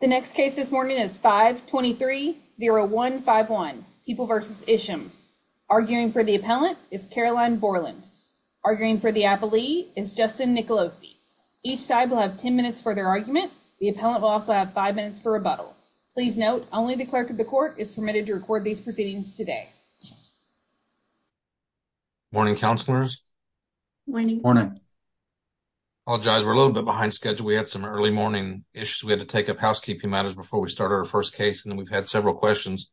The next case this morning is 523-0151, People v. Isham. Arguing for the appellant is Caroline Borland. Arguing for the appellee is Justin Nicolosi. Each side will have 10 minutes for their argument. The appellant will also have five minutes for rebuttal. Please note, only the clerk of the court is permitted to record these proceedings today. Morning, counselors. Morning. Morning. Apologize, we're a little bit behind schedule. We had some early morning issues. We had to take up housekeeping matters before we started our first case, and then we've had several questions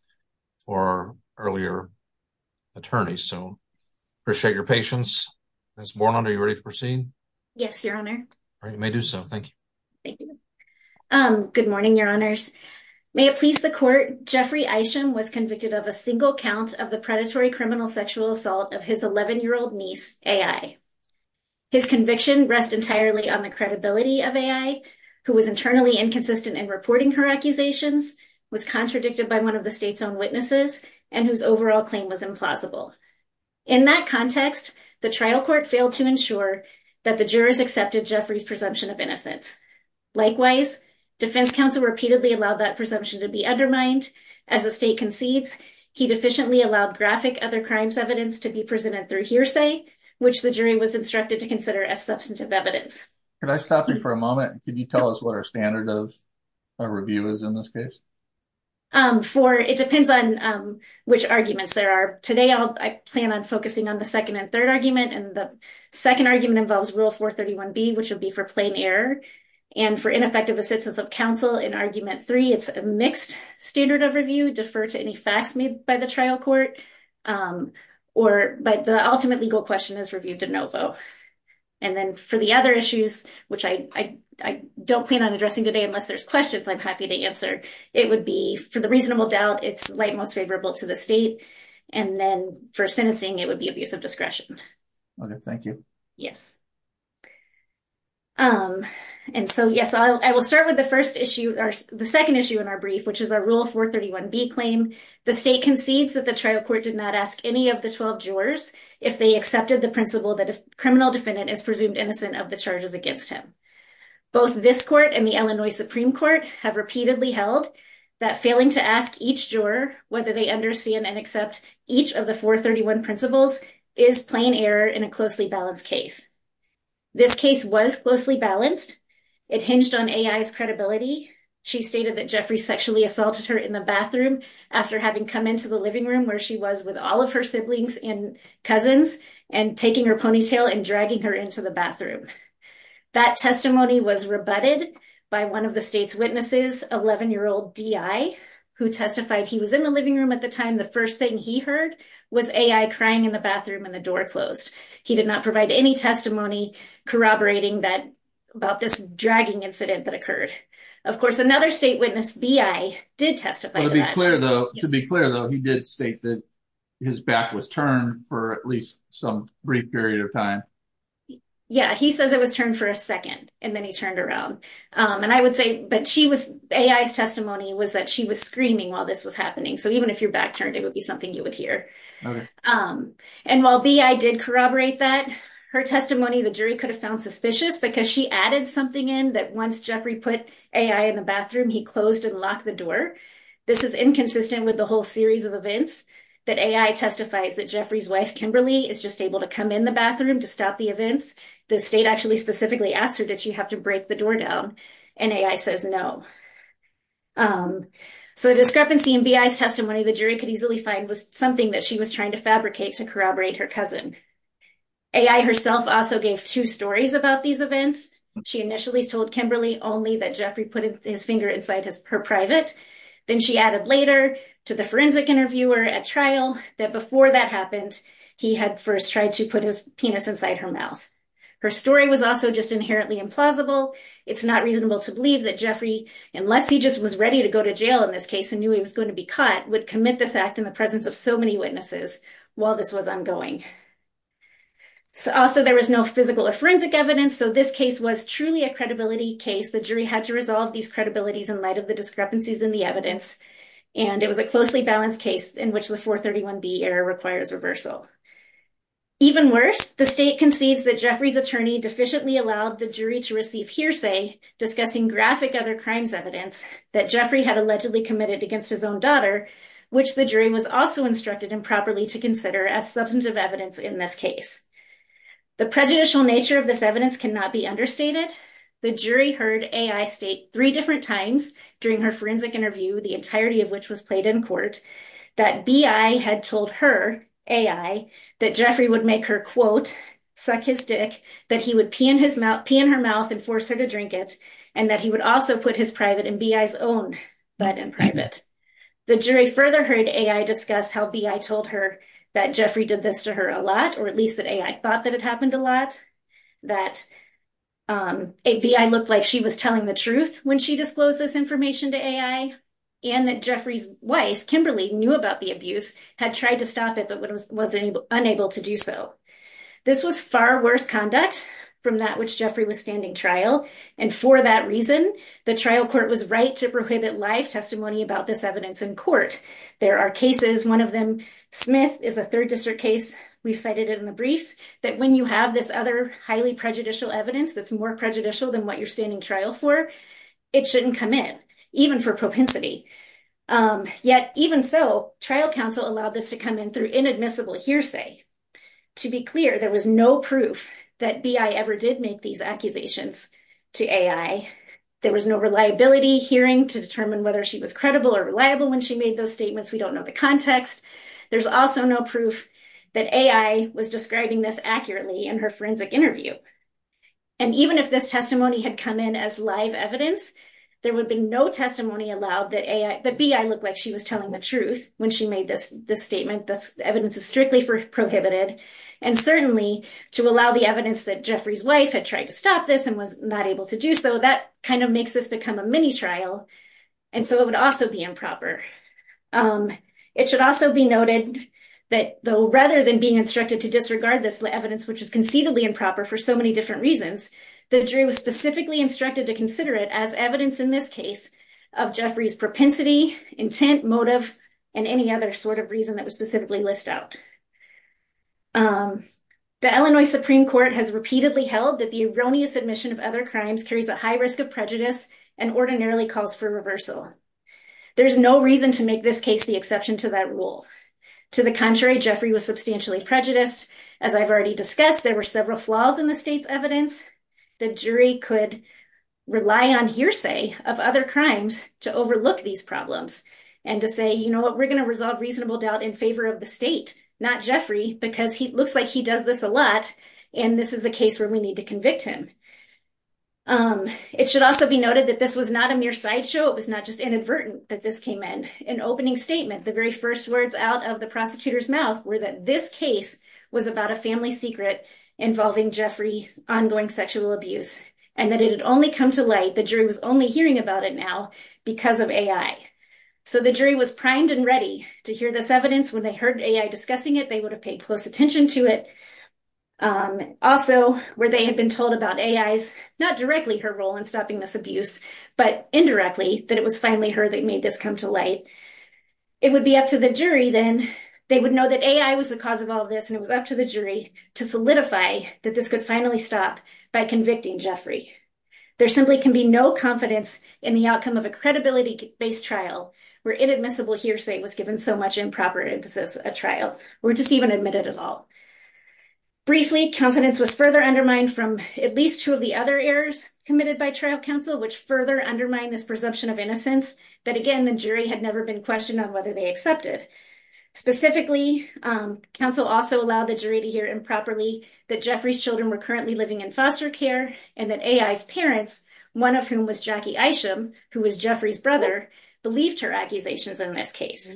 for earlier attorneys. So, appreciate your patience. Ms. Borland, are you ready to proceed? Yes, Your Honor. You may do so. Thank you. Thank you. Good morning, Your Honors. May it please the court, Jeffrey Isham was convicted of a single count of the predatory criminal sexual assault of his 11-year-old niece, A.I. His conviction rests entirely on the credibility of A.I., who was internally inconsistent in reporting her accusations, was contradicted by one of the state's own witnesses, and whose overall claim was implausible. In that context, the trial court failed to ensure that the jurors accepted Jeffrey's presumption of innocence. Likewise, defense counsel repeatedly allowed that presumption to be undermined. As the state concedes, he deficiently allowed graphic other crimes evidence to be presented through hearsay, which the jury was instructed to consider as substantive evidence. Could I stop you for a moment? Could you tell us what our standard of review is in this case? It depends on which arguments there are. Today, I plan on focusing on the second and third argument, and the second argument involves Rule 431B, which will be for plain error. And for ineffective assistance of counsel in Argument 3, it's a mixed standard of review. Defer to any facts made by the trial court, or the ultimate legal question is reviewed de novo. And then for the other issues, which I don't plan on addressing today unless there's questions I'm happy to answer, it would be, for the reasonable doubt, it's light most favorable to the state. And then for sentencing, it would be abuse of discretion. Okay, thank you. Yes. And so, yes, I will start with the first issue, the second issue in our brief, which is our Rule 431B claim. The state concedes that the trial court did not ask any of the 12 jurors if they accepted the principle that a criminal defendant is presumed innocent of the charges against him. Both this court and the Illinois Supreme Court have repeatedly held that failing to ask each juror whether they understand and accept each of the 431 principles is plain error in a closely balanced case. This case was closely balanced. It hinged on A.I.'s credibility. She stated that Jeffrey sexually assaulted her in the bathroom after having come into the living room where she was with all of her siblings and cousins and taking her ponytail and dragging her into the bathroom. That testimony was rebutted by one of the state's witnesses, 11-year-old D.I., who testified he was in the living room at the time. The first thing he heard was A.I. crying in the bathroom and the door closed. He did not provide any testimony corroborating that about this dragging incident that occurred. Of course, another state witness, B.I., did testify. To be clear, though, he did state that his back was turned for at least some brief period of time. Yeah, he says it was turned for a second and then he turned around. And I would say, but she was, A.I.'s testimony was that she was screaming while this was happening. So even if your back turned, it would be something you would hear. And while B.I. did corroborate that, her testimony, the jury could have found suspicious because she added something in that once Jeffrey put A.I. in the bathroom, he closed and locked the door. This is inconsistent with the whole series of events that A.I. testifies that Jeffrey's wife, Kimberly, is just able to come in the bathroom to stop the events. The state actually specifically asked her, did she have to break the door down? And A.I. says no. So the discrepancy in B.I.'s testimony, the jury could easily find, was something that she was trying to fabricate to corroborate her cousin. A.I. herself also gave two stories about these events. She initially told Kimberly only that Jeffrey put his finger inside her private. Then she added later to the forensic interviewer at trial that before that happened, he had first tried to put his penis inside her mouth. Her story was also just inherently implausible. It's not reasonable to believe that Jeffrey, unless he just was ready to go to jail in this case and knew he was going to be caught, would commit this act in the presence of so many witnesses while this was ongoing. Also, there was no physical or forensic evidence. So this case was truly a credibility case. The jury had to resolve these credibilities in light of the discrepancies in the evidence. And it was a closely balanced case in which the 431B error requires reversal. Even worse, the state concedes that Jeffrey's attorney deficiently allowed the jury to receive hearsay discussing graphic other crimes evidence that Jeffrey had allegedly committed against his own daughter, which the jury was also instructed improperly to consider as substantive evidence in this case. The prejudicial nature of this evidence cannot be understated. The jury heard A.I. state three different times during her forensic interview, the entirety of which was played in court, that B.I. had told her, A.I., that Jeffrey would make her, quote, suck his dick, that he would pee in her mouth and force her to drink it, and that he would also put his private and B.I.'s own butt in private. The jury further heard A.I. discuss how B.I. told her that Jeffrey did this to her a lot, or at least that A.I. thought that it happened a lot, that B.I. looked like she was telling the truth when she disclosed this information to A.I., and that Jeffrey's wife, Kimberly, knew about the abuse, had tried to stop it, but was unable to do so. This was far worse conduct from that which Jeffrey was standing trial, and for that reason, the trial court was right to prohibit live testimony about this evidence in court. There are cases, one of them, Smith is a third district case, we've cited it in the briefs, that when you have this other highly prejudicial evidence that's more prejudicial than what you're standing trial for, it shouldn't come in, even for propensity. Yet, even so, trial counsel allowed this to come in through inadmissible hearsay. To be clear, there was no proof that B.I. ever did make these accusations. To A.I., there was no reliability hearing to determine whether she was credible or reliable when she made those statements, we don't know the context. There's also no proof that A.I. was describing this accurately in her forensic interview. And even if this testimony had come in as live evidence, there would be no testimony allowed that A.I., that B.I. looked like she was telling the truth when she made this statement, this evidence is strictly prohibited. And certainly, to allow the evidence that Jeffrey's wife had tried to stop this and was not able to do so, that kind of makes this become a mini trial. And so it would also be improper. It should also be noted that though, rather than being instructed to disregard this evidence, which is conceitedly improper for so many different reasons, the jury was specifically instructed to consider it as evidence in this case of Jeffrey's propensity, intent, motive, and any other sort of reason that was specifically list out. The Illinois Supreme Court has repeatedly held that the erroneous admission of other crimes carries a high risk of prejudice and ordinarily calls for reversal. There's no reason to make this case the exception to that rule. To the contrary, Jeffrey was substantially prejudiced. As I've already discussed, there were several flaws in the state's evidence. The jury could rely on hearsay of other crimes to overlook these problems. And to say, you know what, we're going to resolve reasonable doubt in favor of the state, not Jeffrey, because he looks like he does this a lot. And this is the case where we need to convict him. It should also be noted that this was not a mere sideshow. It was not just inadvertent that this came in. An opening statement, the very first words out of the prosecutor's mouth were that this case was about a family secret involving Jeffrey's ongoing sexual abuse and that it had only come to light, the jury was only hearing about it now because of AI. So the jury was primed and ready to hear this evidence. When they heard AI discussing it, they would have paid close attention to it. Also, where they had been told about AI's, not directly her role in stopping this abuse, but indirectly that it was finally her that made this come to light. It would be up to the jury then, they would know that AI was the cause of all of this and it was up to the jury to solidify that this could finally stop by convicting Jeffrey. There simply can be no confidence in the outcome of a credibility-based trial so much improper emphasis at trial, or just even admitted at all. Briefly, confidence was further undermined from at least two of the other errors committed by trial counsel, which further undermine this presumption of innocence, that again, the jury had never been questioned on whether they accepted. Specifically, counsel also allowed the jury to hear improperly that Jeffrey's children were currently living in foster care and that AI's parents, one of whom was Jackie Isham, who was Jeffrey's brother, believed her accusations in this case.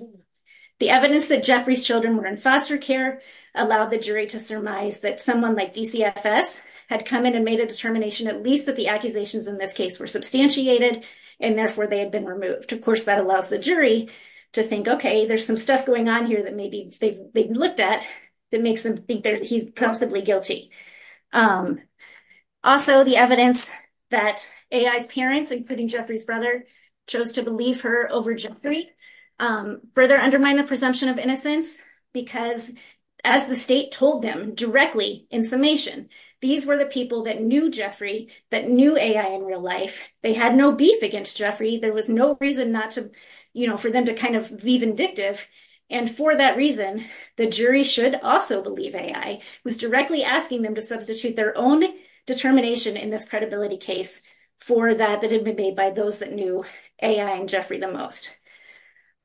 The evidence that Jeffrey's children were in foster care allowed the jury to surmise that someone like DCFS had come in and made a determination at least that the accusations in this case were substantiated and therefore they had been removed. Of course, that allows the jury to think, okay, there's some stuff going on here that maybe they've looked at that makes them think that he's possibly guilty. Also, the evidence that AI's parents, including Jeffrey's brother, chose to believe her over Jeffrey, further undermine the presumption of innocence because, as the state told them directly in summation, these were the people that knew Jeffrey, that knew AI in real life. They had no beef against Jeffrey. There was no reason not to, you know, for them to kind of be vindictive. And for that reason, the jury should also believe AI was directly asking them to substitute their own determination in this credibility case for that that had been made by those that knew AI and Jeffrey the most.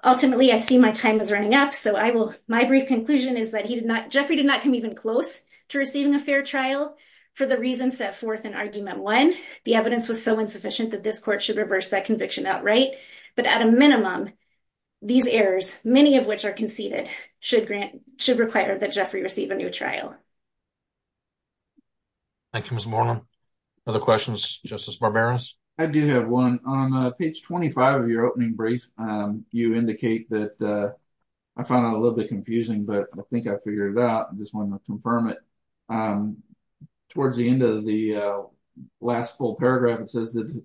Ultimately, I see my time is running up, so I will, my brief conclusion is that he did not, Jeffrey did not come even close to receiving a fair trial for the reasons set forth in Argument 1. The evidence was so insufficient that this court should reverse that conviction outright, but at a minimum, these errors, many of which are conceded, should require that Jeffrey receive a new trial. Thank you, Ms. Moreland. Other questions, Justice Barberos? I do have one. On page 25 of your opening brief, you indicate that, I found it a little bit confusing, but I think I figured it out. I just wanted to confirm it. Towards the end of the last full paragraph, it says that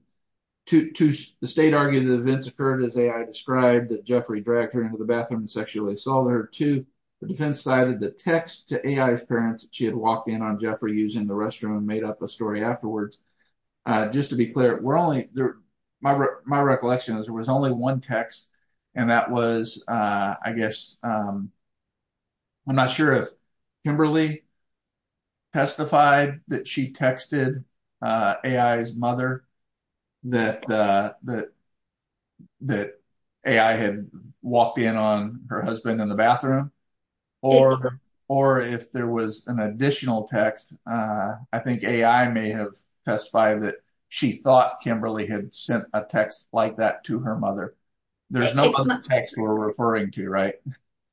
the state argued that events occurred as AI described, that Jeffrey dragged her into the bathroom and sexually assaulted her too. The defense cited the text to AI's parents that she had walked in on Jeffrey using the restroom and made up a story afterwards. Just to be clear, we're only, my recollection is there was only one text and that was, I guess, I'm not sure if Kimberly testified that she texted AI's mother that AI had walked in on her husband in the bathroom or if there was an additional text, I think AI may have testified that she thought Kimberly had sent a text like that to her mother. There's no other text we're referring to, right?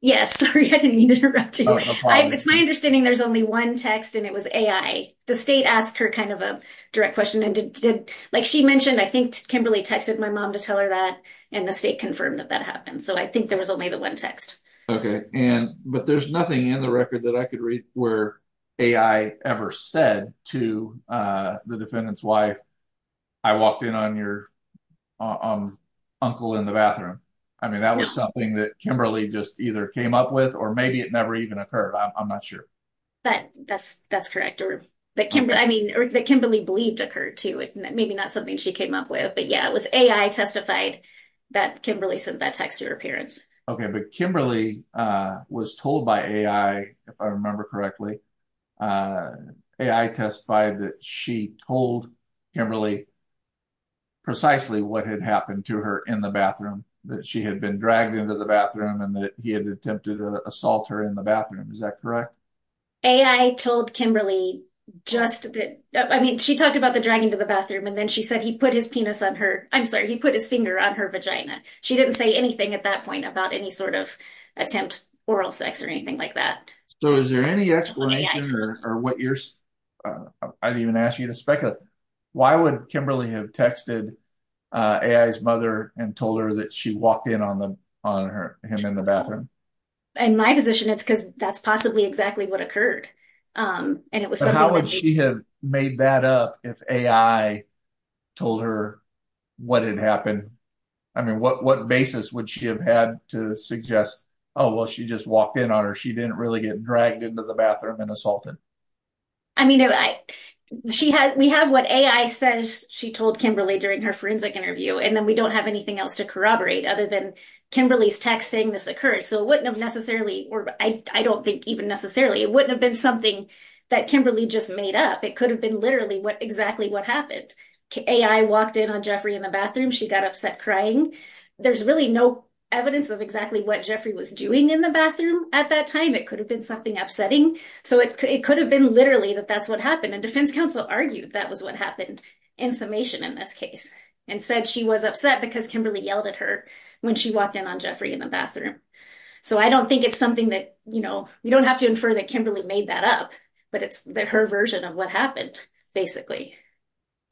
Yes, sorry, I didn't mean to interrupt you. It's my understanding there's only one text and it was AI. The state asked her kind of a direct question and did, like she mentioned, I think Kimberly texted my mom to tell her that and the state confirmed that that happened. So I think there was only the one text. Okay, but there's nothing in the record that I could read where AI ever said to the defendant's wife, I walked in on your uncle in the bathroom. I mean, that was something that Kimberly just either came up with or maybe it never even occurred, I'm not sure. But that's correct. I mean, that Kimberly believed occurred too. It may be not something she came up with, but yeah, it was AI testified that Kimberly sent that text to her parents. Okay, but Kimberly was told by AI, if I remember correctly, AI testified that she told Kimberly precisely what had happened to her in the bathroom, that she had been dragged into the bathroom and that he had attempted to assault her in the bathroom. Is that correct? AI told Kimberly just that, I mean, she talked about the dragging to the bathroom and then she said he put his penis on her, I'm sorry, he put his finger on her vagina. She didn't say anything at that point about any sort of attempt oral sex or anything like that. So is there any explanation or what you're... I didn't even ask you to speculate. Why would Kimberly have texted AI's mother and told her that she walked in on him in the bathroom? In my position, it's because that's possibly exactly what occurred. And it was something... How would she have made that up if AI told her what had happened? I mean, what basis would she have had to suggest, oh, well, she just walked in on her, she didn't really get dragged into the bathroom and assaulted? I mean, we have what AI says she told Kimberly during her forensic interview, and then we don't have anything else to corroborate other than Kimberly's text saying this occurred. So it wouldn't have necessarily, or I don't think even necessarily, it wouldn't have been something that Kimberly just made up. It could have been literally exactly what happened. AI walked in on Jeffrey in the bathroom, she got upset crying. There's really no evidence of exactly what Jeffrey was doing in the bathroom at that time. It could have been something upsetting. So it could have been literally that that's what happened. And defense counsel argued that was what happened in summation in this case and said she was upset because Kimberly yelled at her when she walked in on Jeffrey in the bathroom. So I don't think it's something that... We don't have to infer that Kimberly made that up, but it's her version of what happened, basically.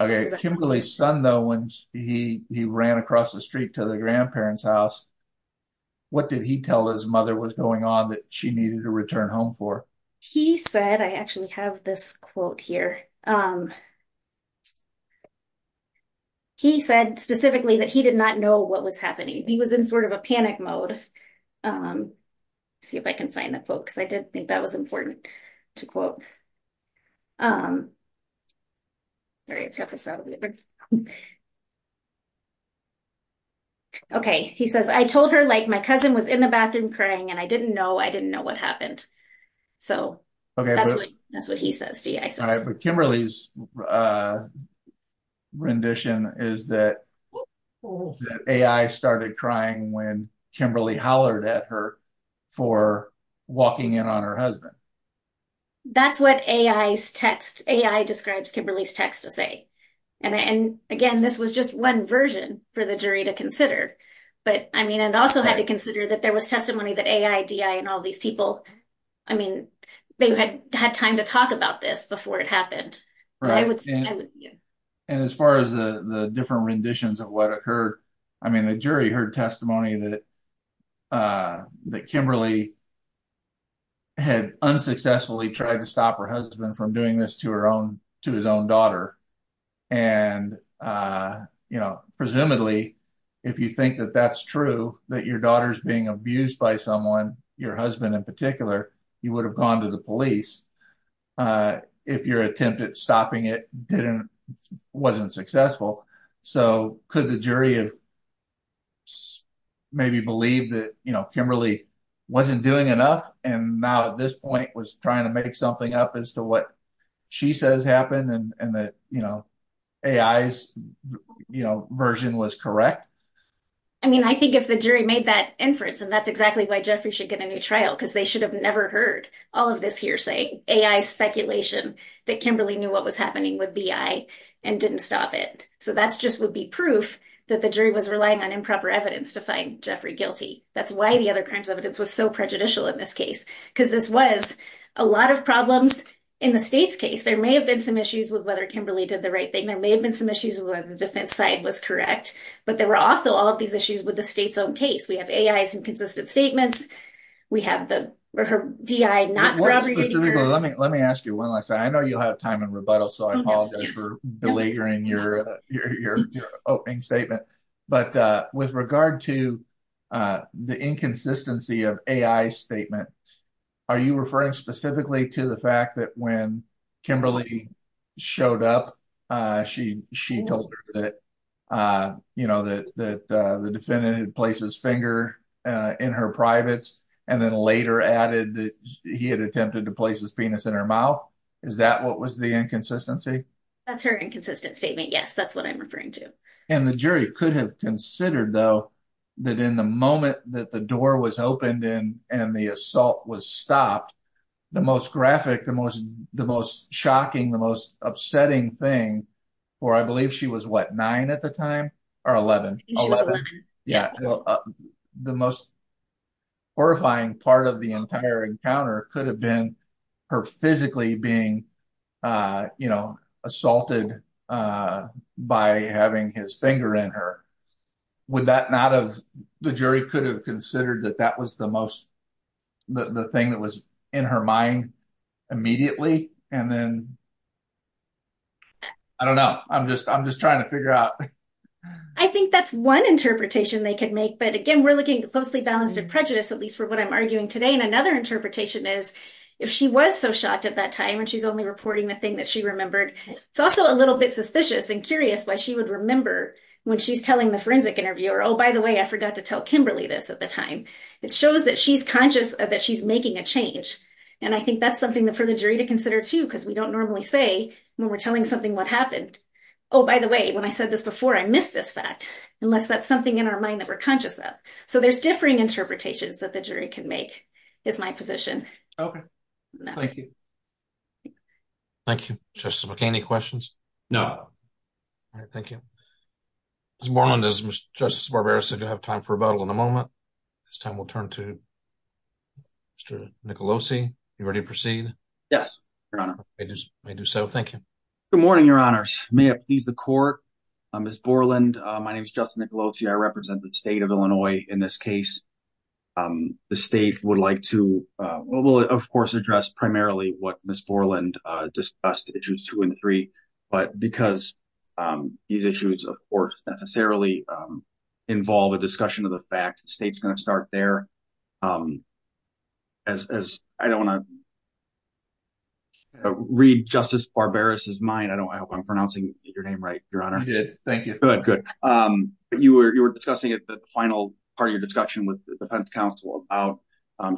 Okay. Kimberly's son, though, when he ran across the street to the grandparents' house, what did he tell his mother was going on that she needed to return home for? He said... I actually have this quote here. He said specifically that he did not know what was happening. He was in sort of a panic mode. See if I can find the quote because I did think that was important to quote. Sorry, I've got this out of order. Okay. He says, I told her like my cousin was in the bathroom crying and I didn't know I didn't know what happened. So that's what he says. Kimberly's rendition is that AI started crying when Kimberly hollered at her for walking in on her husband. That's what AI's text... AI describes Kimberly's text to say. And again, this was just one version for the jury to consider. And also had to consider that there was testimony that AI, DI and all these people, I mean, they had time to talk about this before it happened. And as far as the different renditions of what occurred, I mean, the jury heard testimony that Kimberly had unsuccessfully tried to stop her husband from doing this to his own daughter. And presumably, if you think that that's true, that your daughter's being abused by someone, your husband in particular, he would have gone to the police if your attempt at stopping it wasn't successful. So could the jury have maybe believed that Kimberly wasn't doing enough? And now at this point was trying to make something up as to what she says happened and that AI's version was correct? I mean, I think if the jury made that inference, and that's exactly why Jeffrey should get a new trial because they should have never heard all of this hearsay, AI speculation that Kimberly knew what was happening with BI and didn't stop it. So that's just would be proof that the jury was relying on improper evidence to find Jeffrey guilty. That's why the other crimes evidence was so prejudicial in this case because this was a lot of problems in the state's case. There may have been some issues with whether Kimberly did the right thing. There may have been some issues with whether the defense side was correct, but there were also all of these issues with the state's own case. We have AI's inconsistent statements. We have the DI not corroborating. Let me ask you one last thing. I know you'll have time in rebuttal. So I apologize for belaboring your opening statement. But with regard to the inconsistency of AI statement, are you referring specifically to the fact that when Kimberly showed up, she told her that the defendant had placed his finger in her privates and then later added that he had attempted to place his penis in her mouth? Is that what was the inconsistency? That's her inconsistent statement. Yes, that's what I'm referring to. And the jury could have considered though that in the moment that the door was opened and the assault was stopped, the most graphic, the most shocking, the most upsetting thing, for I believe she was what, nine at the time? Or 11? Yeah, the most horrifying part of the entire encounter could have been her physically being assaulted by having his finger in her. Would that not have, the jury could have considered that that was the most, the thing that was in her mind immediately? And then, I don't know. I'm just trying to figure out. I think that's one interpretation they could make. But again, we're looking closely balanced at prejudice, at least for what I'm arguing today. And another interpretation is if she was so shocked at that time when she's only reporting the thing that she remembered, it's also a little bit suspicious and curious why she would remember when she's telling the forensic interviewer, by the way, I forgot to tell Kimberly this at the time. It shows that she's conscious that she's making a change. And I think that's something for the jury to consider too, because we don't normally say when we're telling something what happened. Oh, by the way, when I said this before, I missed this fact, unless that's something in our mind that we're conscious of. So there's differing interpretations that the jury can make, is my position. Okay, thank you. Thank you. Justice McCain, any questions? No. All right, thank you. Ms. Borland, as Justice Barbera said, you'll have time for rebuttal in a moment. This time we'll turn to Mr. Nicolosi. You ready to proceed? Yes, Your Honor. I do so, thank you. Good morning, Your Honors. May it please the court. Ms. Borland, my name is Justin Nicolosi. I represent the state of Illinois in this case. The state would like to, well, we'll of course address primarily what Ms. Borland discussed, issues two and three. But because these issues, of course, necessarily involve a discussion of the facts, the state's going to start there. As I don't want to read Justice Barbera's mind, I hope I'm pronouncing your name right, Your Honor. I did, thank you. Good, good. But you were discussing at the final part of your discussion with the defense counsel about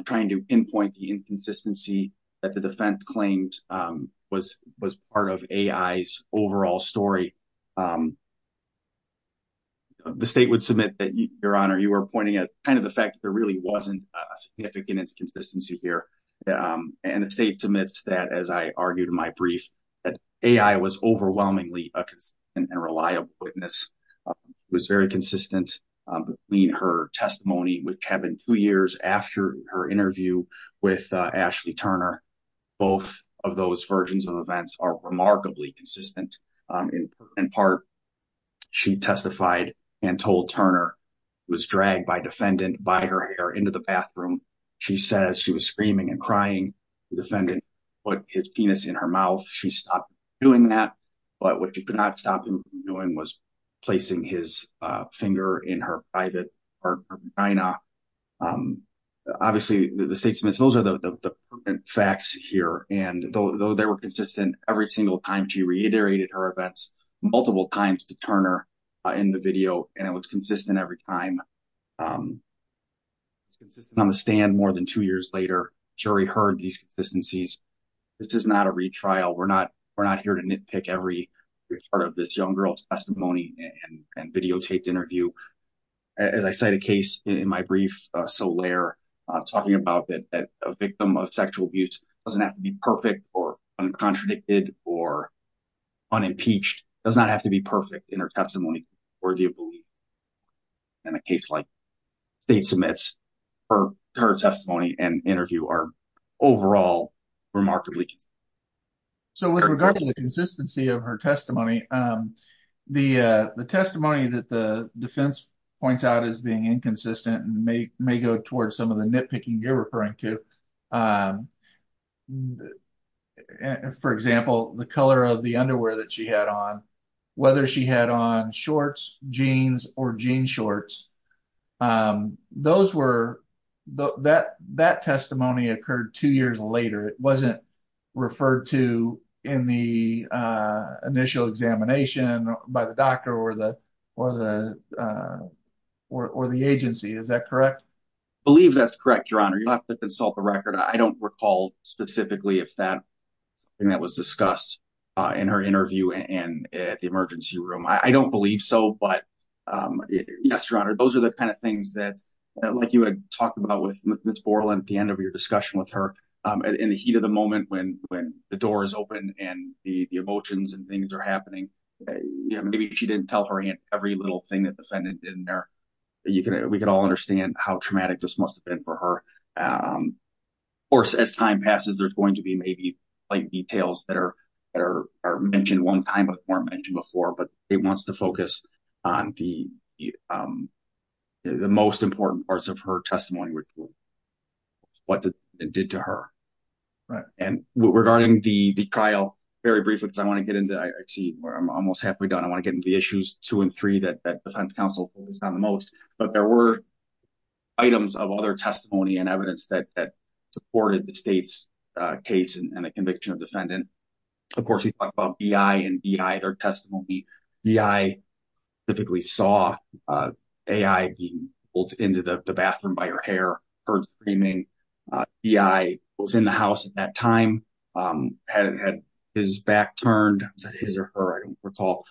trying to pinpoint the inconsistency that the defense claimed was part of AI's overall story. The state would submit that, Your Honor, you were pointing at kind of the fact that there really wasn't a significant inconsistency here. And the state submits that, as I argued in my brief, that AI was overwhelmingly a reliable witness, was very consistent between her testimony, which happened two years after her interview with Ashley Turner. Both of those versions of events are remarkably consistent. In part, she testified and told Turner, was dragged by defendant by her hair into the bathroom. She says she was screaming and crying. The defendant put his penis in her mouth. She stopped doing that. But what she could not stop him from doing was placing his finger in her private part of her vagina. Obviously, the state submits, those are the facts here. And though they were consistent every single time, she reiterated her events multiple times to Turner in the video, and it was consistent every time. It's consistent on the stand more than two years later, jury heard these consistencies. This is not a retrial. We're not here to nitpick every part of this young girl's testimony and videotaped interview. As I cite a case in my brief, Solaire talking about that a victim of sexual abuse doesn't have to be perfect or uncontradicted or unimpeached, does not have to be perfect in her testimony. Or do you believe in a case like state submits for her testimony and interview are overall remarkably consistent. So with regard to the consistency of her testimony, the testimony that the defense points out as being inconsistent and may go towards some of the nitpicking you're referring to. For example, the color of the underwear that she had on, whether she had on shorts, jeans or jean shorts, those were, that testimony occurred two years later. It wasn't referred to in the initial examination by the doctor or the agency. Is that correct? I believe that's correct, your honor. You'll have to consult the record. I don't recall specifically if that thing that was discussed in her interview and at the emergency room. I don't believe so, but yes, your honor. Those are the kind of things that, like you had talked about with Ms. Borland at the end of your discussion with her in the heat of the moment when the door is open and the emotions and things are happening. Maybe she didn't tell her every little thing that the defendant did in there. We could all understand how traumatic this must have been for her. Of course, as time passes, there's going to be maybe like details that are mentioned one time before mentioned before, but it wants to focus on the most important parts of her testimony ritual. What it did to her, right? And regarding the trial, very briefly, because I want to get into, I see where I'm almost halfway done. I want to get into the issues two and three that defense counsel focused on the most, but there were items of other testimony and evidence that supported the state's case and the conviction of defendant. Of course, we talked about BI and BI, their testimony. BI typically saw AI being pulled into the bathroom by her hair, heard screaming. BI was in the house at that time, had his back turned, his or her, I don't recall,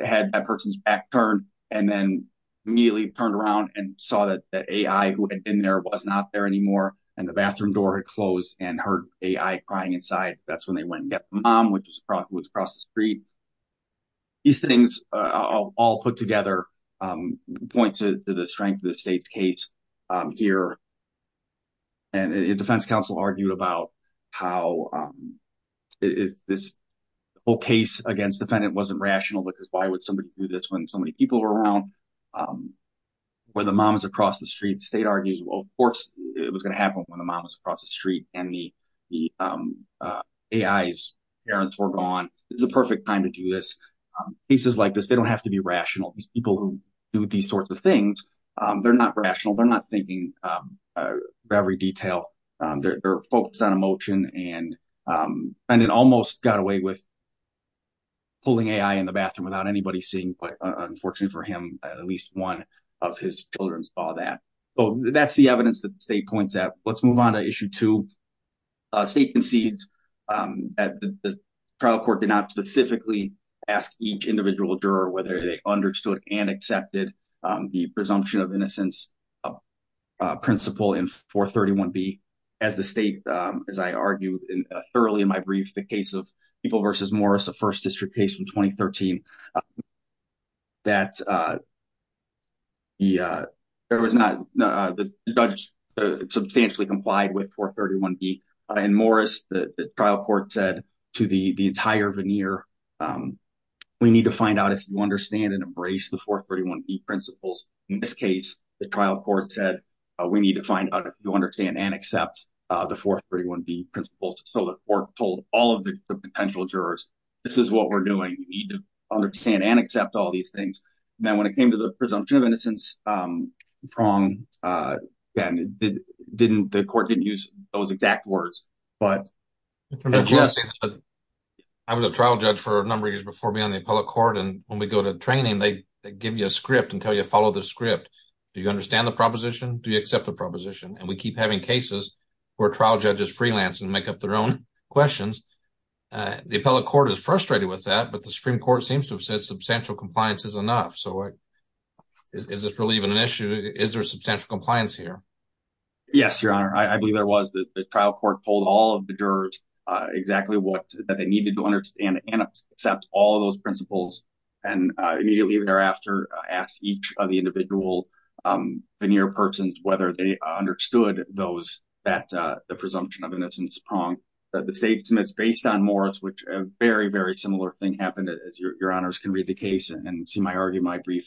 had that person's back turned and then immediately turned around and saw that the AI who had been there was not there anymore. And the bathroom door had closed and heard AI crying inside. That's when they went and got the mom, which was across the street. These things all put together point to the strength of the state's case here. And defense counsel argued about how this whole case against defendant wasn't rational because why would somebody do this when so many people were around? When the mom was across the street, state argues, well, of course it was going to happen when the mom was across the street and the AI's parents were gone. This is a perfect time to do this. Cases like this, they don't have to be rational. These people who do these sorts of things, they're not rational. They're not thinking of every detail. They're focused on emotion and it almost got away with pulling AI in the bathroom without anybody seeing. But unfortunately for him, at least one of his children saw that. So that's the evidence that the state points out. Let's move on to issue two. State concedes that the trial court did not specifically ask each individual juror whether they understood and accepted the presumption of innocence principle in 431B. As the state, as I argued thoroughly in my brief, the case of People v. Morris, a first district case from 2013, that the judge substantially complied with 431B. And Morris, the trial court said to the entire veneer, we need to find out if you understand and embrace the 431B principles. In this case, the trial court said, we need to find out if you understand and accept the 431B principles. So the court told all of the potential jurors, this is what we're doing. We need to understand and accept all these things. And then when it came to the presumption of innocence, wrong, the court didn't use those exact words. But- I was a trial judge for a number of years before being on the appellate court. And when we go to training, they give you a script and tell you to follow the script. Do you understand the proposition? Do you accept the proposition? And we keep having cases where trial judges freelance and make up their own questions. The appellate court is frustrated with that, but the Supreme Court seems to have said So is this really even an issue? Is there substantial compliance here? Yes, Your Honor. I believe there was. The trial court told all of the jurors exactly what they needed to understand and accept all of those principles. And immediately thereafter, asked each of the individual veneer persons whether they understood those, that the presumption of innocence is wrong. The state submits based on Morris, which a very, very similar thing happened, as Your Honors can read the case and see my argument brief.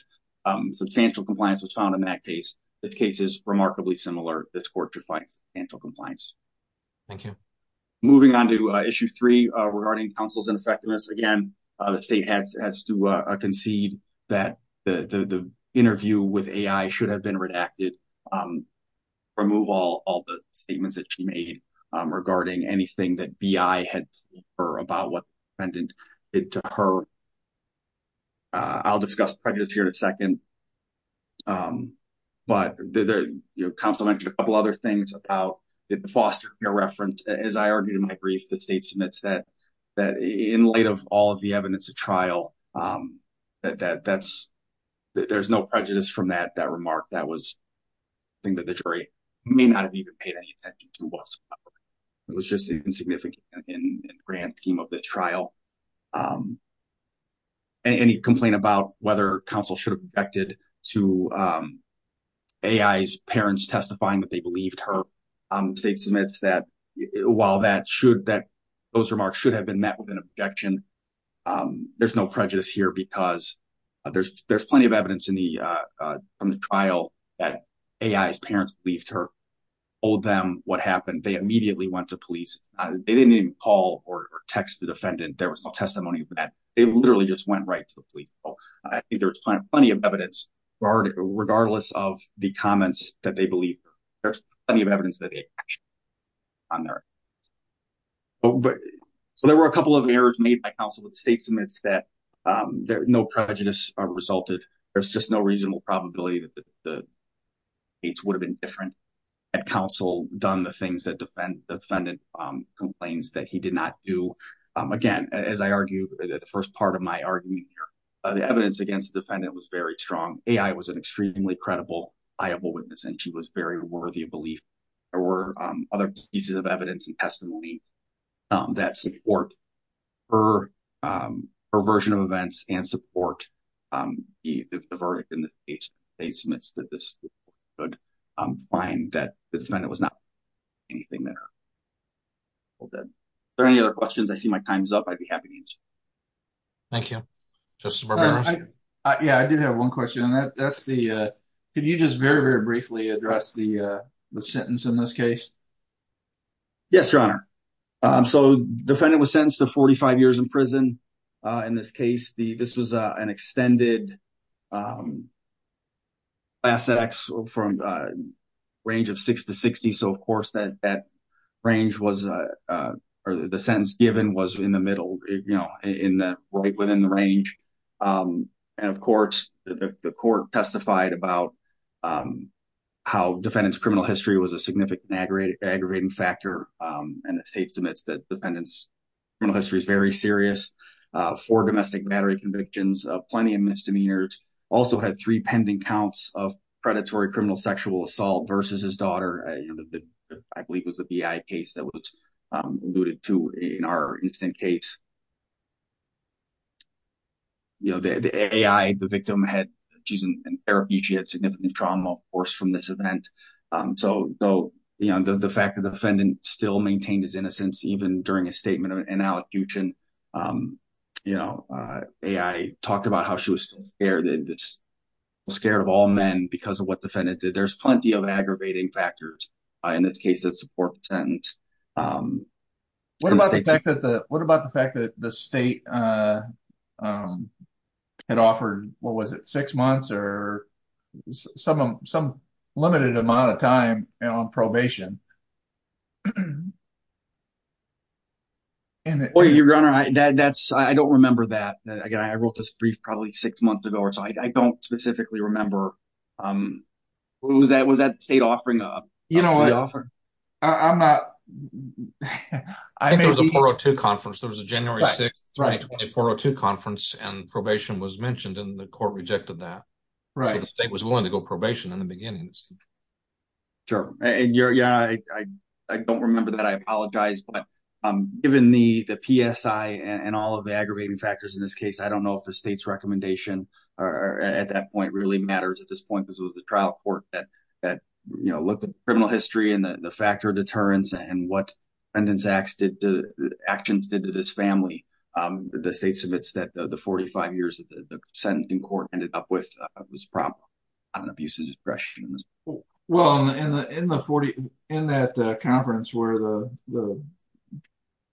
Substantial compliance was found in that case. This case is remarkably similar. This court defines substantial compliance. Thank you. Moving on to issue three regarding counsel's ineffectiveness. Again, the state has to concede that the interview with AI should have been redacted, remove all the statements that she made regarding anything that BI had said to her about what the defendant did to her. I'll discuss prejudice here in a second. But the counsel mentioned a couple other things about the foster care reference. As I argued in my brief, the state submits that in light of all of the evidence of trial, there's no prejudice from that remark. That was something that the jury may not have even paid any attention to whatsoever. It was just insignificant in the grand scheme of the trial. Any complaint about whether counsel should have objected to AI's parents testifying that they believed her, the state submits that while those remarks should have been met with an objection, there's no prejudice here because there's plenty of evidence from the trial that AI's parents believed her, told them what happened. They immediately went to police. They didn't even call or text the defendant. There was no testimony of that. They literally just went right to the police. I think there was plenty of evidence regardless of the comments that they believe. There's plenty of evidence that they actually on there. So there were a couple of errors made by counsel with state submits that no prejudice resulted. There's just no reasonable probability that the states would have been different and counsel done the things that defendant complains that he did not do. Again, as I argue the first part of my argument here, the evidence against the defendant was very strong. AI was an extremely credible, liable witness and she was very worthy of belief. There were other pieces of evidence and testimony that support her version of events and support the verdict in the state submits that this could find that the defendant was not doing anything that her parents did. Are there any other questions? I see my time's up. I'd be happy to answer. Thank you. Justice Barbera. Yeah, I did have one question. Could you just very, very briefly address the sentence in this case? Yes, Your Honor. So the defendant was sentenced to 45 years in prison. In this case, this was an extended class act from range of six to 60. So of course that range was, or the sentence given was in the middle. In the right within the range. And of course, the court testified about how defendant's criminal history was a significant aggravating factor. And the state submits that defendant's criminal history is very serious. Four domestic battery convictions, plenty of misdemeanors. Also had three pending counts of predatory criminal sexual assault versus his daughter. I believe it was a BI case that was alluded to in our instant case. You know, the AI, the victim had, she's an Arab, she had significant trauma, of course, from this event. So though, you know, the fact that the defendant still maintained his innocence, even during a statement of an allocution, you know, AI talked about how she was still scared. And it's scared of all men because of what the defendant did. There's plenty of aggravating factors in this case that support the sentence. What about the fact that the state had offered, what was it, six months or some limited amount of time on probation? Well, Your Honor, I don't remember that. Again, I wrote this brief probably six months ago or so, I don't specifically remember. What was that state offering? You know what, I'm not. I think it was a 402 conference. There was a January 6th, 2020 402 conference and probation was mentioned and the court rejected that. So the state was willing to go probation in the beginning. Sure, and Your Honor, I don't remember that. I apologize, but given the PSI and all of the aggravating factors in this case, I don't know if the state's recommendation at that point really matters at this point because it was the trial court that looked at criminal history and the factor of deterrence and what actions did to this family. The state submits that the 45 years that the sentencing court ended up with was prompt on abuse of discretion. Well, in that conference where the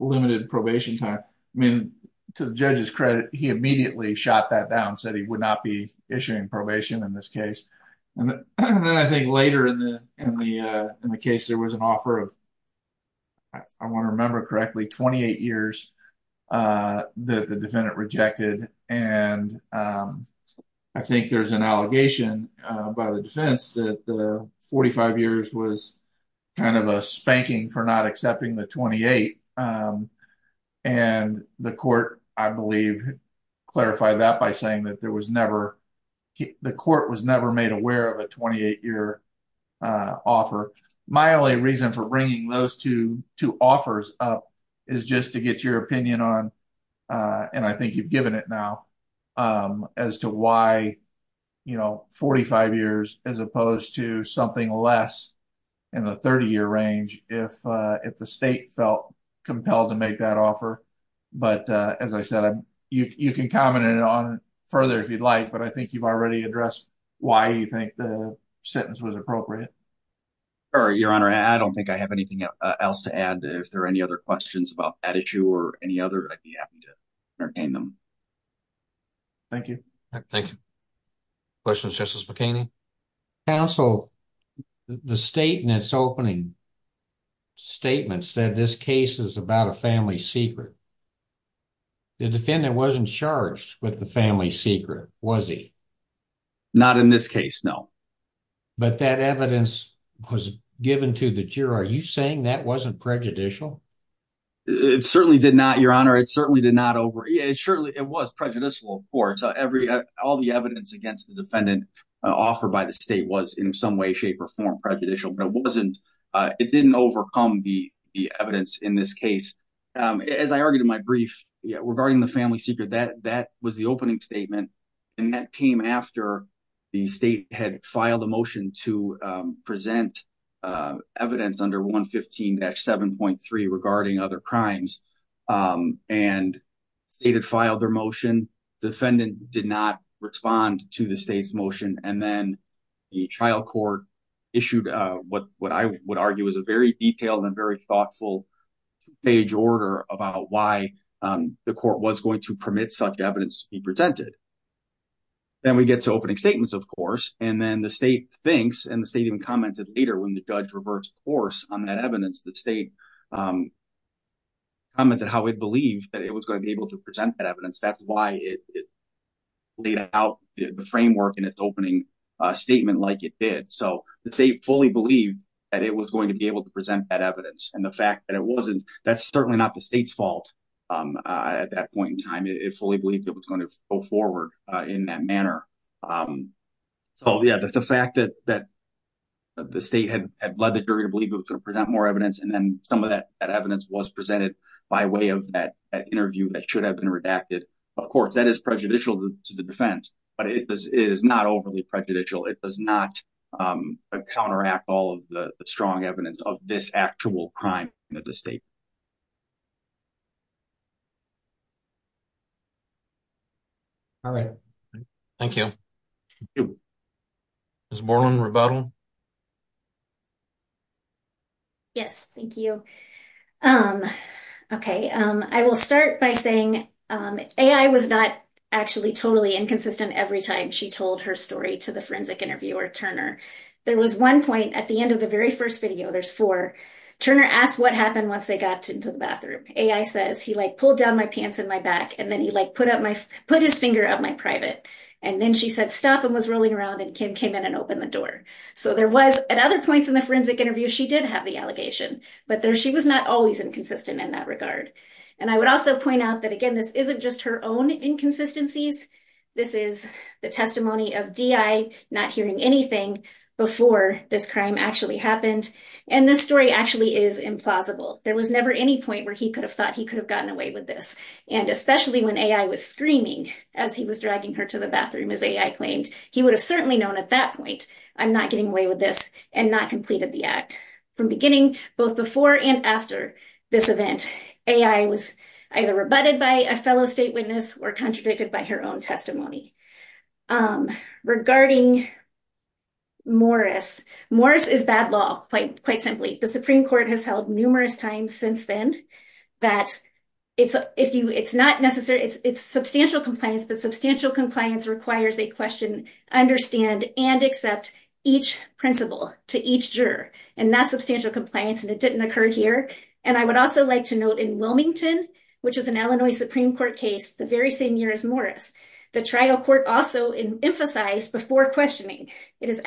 limited probation time, I mean, to the judge's credit, he immediately shot that down, said he would not be issuing probation in this case. And then I think later in the case, there was an offer of, I want to remember correctly, 28 years that the defendant rejected. And I think there's an allegation by the defense that the 45 years was kind of a spanking for not accepting the 28. And the court, I believe, clarified that by saying that the court was never made aware of a 28-year offer. My only reason for bringing those two offers up is just to get your opinion on, and I think you've given it now, as to why 45 years as opposed to something less in the 30-year range if the state felt compelled to make that offer. But as I said, you can comment on it further if you'd like, but I think you've already addressed why you think the sentence was appropriate. Sure, Your Honor. I don't think I have anything else to add. If there are any other questions about that issue or any other, I'd be happy to entertain them. Thank you. Thank you. Questions, Justice McKinney? Counsel, the state in its opening statement said this case is about a family secret. The defendant wasn't charged with the family secret, was he? Not in this case, no. But that evidence was given to the juror. Are you saying that wasn't prejudicial? It certainly did not, Your Honor. It certainly did not over... Surely it was prejudicial, of course. All the evidence against the defendant offered by the state was in some way, shape, or form prejudicial, but it didn't overcome the evidence in this case. As I argued in my brief regarding the family secret, that was the opening statement, and that came after the state had filed a motion to present evidence under 115-7.3 regarding other crimes. And state had filed their motion. Defendant did not respond to the state's motion. And then the trial court issued what I would argue is a very detailed and very thoughtful page order about why the court was going to permit such evidence to be presented. Then we get to opening statements, of course. And then the state thinks, and the state even commented later when the judge reversed course on that evidence, the state commented how it believed that it was going to be able to present that evidence. That's why it laid out the framework in its opening statement like it did. So the state fully believed that it was going to be able to present that evidence. that's certainly not the state's fault at that point in time. It fully believed it was going to go forward in that manner. So yeah, the fact that the state had led the jury to believe it was going to present more evidence, and then some of that evidence was presented by way of that interview that should have been redacted. Of course, that is prejudicial to the defense, but it is not overly prejudicial. It does not counteract all of the strong evidence of this actual crime that the state. All right, thank you. Ms. Borland, rebuttal. Yes, thank you. Okay, I will start by saying AI was not actually totally inconsistent every time she told her story to the forensic interviewer, Turner. There was one point at the end of the very first video, there's four. Turner asked what happened once they got into the bathroom. AI says, he like pulled down my pants in my back and then he like put his finger up my private. And then she said, stop, and was rolling around and came in and opened the door. So there was, at other points in the forensic interview, she did have the allegation, but she was not always inconsistent in that regard. And I would also point out that, again, this isn't just her own inconsistencies. This is the testimony of DI not hearing anything before this crime actually happened. And this story actually is implausible. There was never any point where he could have thought he could have gotten away with this. And especially when AI was screaming as he was dragging her to the bathroom, as AI claimed, he would have certainly known at that point, I'm not getting away with this and not completed the act. From beginning, both before and after this event, AI was either rebutted by a fellow state witness or contradicted by her own testimony. Regarding Morris, Morris is bad law, quite simply. The Supreme Court has held numerous times since then that it's substantial compliance, but substantial compliance requires a question, understand and accept each principle to each juror. And that's substantial compliance and it didn't occur here. And I would also like to note in Wilmington, which is an Illinois Supreme Court case, the very same year as Morris, the trial court also emphasized before questioning, that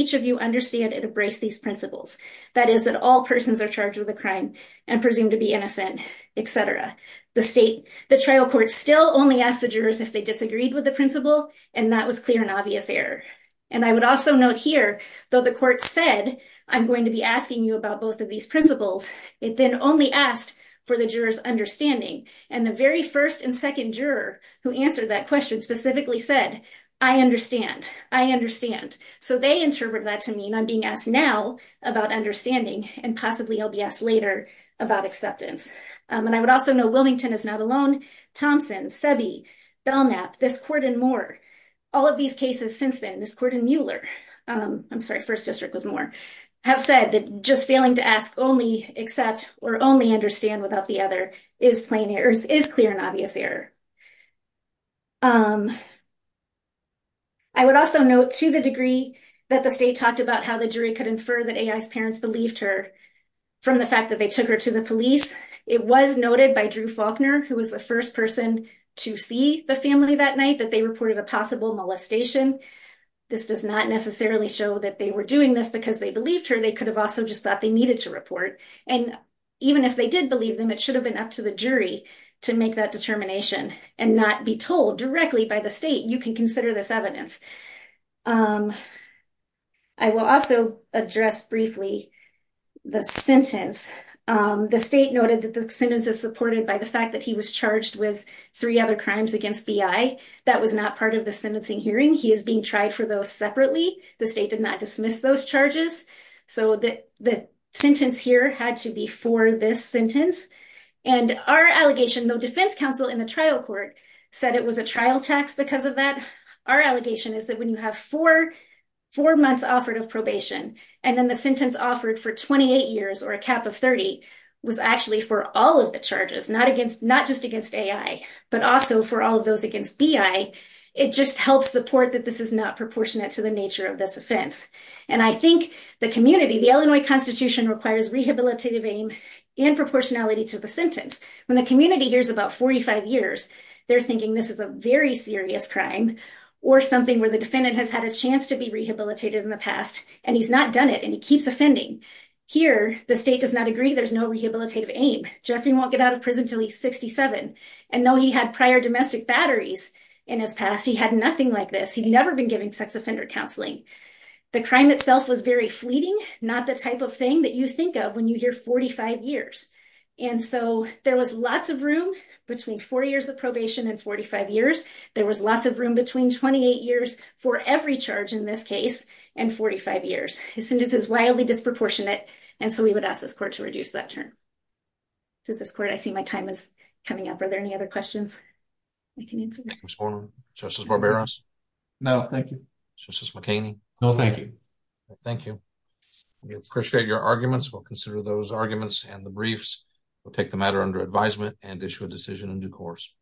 each of you understand and embrace these principles. That is that all persons are charged with a crime and presumed to be innocent, et cetera. The state, the trial court still only asked the jurors if they disagreed with the principle and that was clear and obvious error. And I would also note here, though the court said, I'm going to be asking you about both of these principles. It then only asked for the jurors understanding and the very first and second juror who answered that question specifically said, I understand, I understand. So they interpret that to mean I'm being asked now about understanding and possibly I'll be asked later about acceptance. And I would also know Wilmington is not alone. Thompson, Sebi, Belknap, this court and more, all of these cases since then, this court and Mueller, I'm sorry, first district was more, have said that just failing to ask only accept or only understand without the other is clear and obvious error. I would also note to the degree that the state talked about how the jury could infer that AI's parents believed her from the fact that they took her to the police. It was noted by Drew Faulkner, who was the first person to see the family that night, that they reported a possible molestation. This does not necessarily show that they were doing this because they believed her. They could have also just thought they needed to report. And even if they did believe them, it should have been up to the jury to make that determination and not be told directly by the state. You can consider this evidence. I will also address briefly the sentence. The state noted that the sentence is supported by the fact that he was charged with three other crimes against BI. That was not part of the sentencing hearing. He is being tried for those separately. The state did not dismiss those charges. So the sentence here had to be for this sentence. And our allegation, the defense counsel in the trial court said it was a trial tax because of that. Our allegation is that when you have four months offered of probation, and then the sentence offered for 28 years or a cap of 30 was actually for all of the charges, not just against AI, but also for all of those against BI, it just helps support that this is not proportionate to the nature of this offense. And I think the community, the Illinois Constitution requires rehabilitative aim in proportionality to the sentence. When the community hears about 45 years, they're thinking this is a very serious crime or something where the defendant has had a chance to be rehabilitated in the past and he's not done it and he keeps offending. Here, the state does not agree. There's no rehabilitative aim. Jeffrey won't get out of prison till he's 67. And though he had prior domestic batteries in his past, he had nothing like this. He'd never been given sex offender counseling. The crime itself was very fleeting, not the type of thing that you think of when you hear 45 years. And so there was lots of room between four years of probation and 45 years. There was lots of room between 28 years for every charge in this case and 45 years. His sentence is wildly disproportionate. And so we would ask this court to reduce that term. Does this court, I see my time is coming up. Are there any other questions? I can answer. Thank you, Ms. Borman. Justice Barberos? No, thank you. Justice McKinney? No, thank you. Thank you. We appreciate your arguments. We'll consider those arguments and the briefs. We'll take the matter under advisement and issue a decision in due course.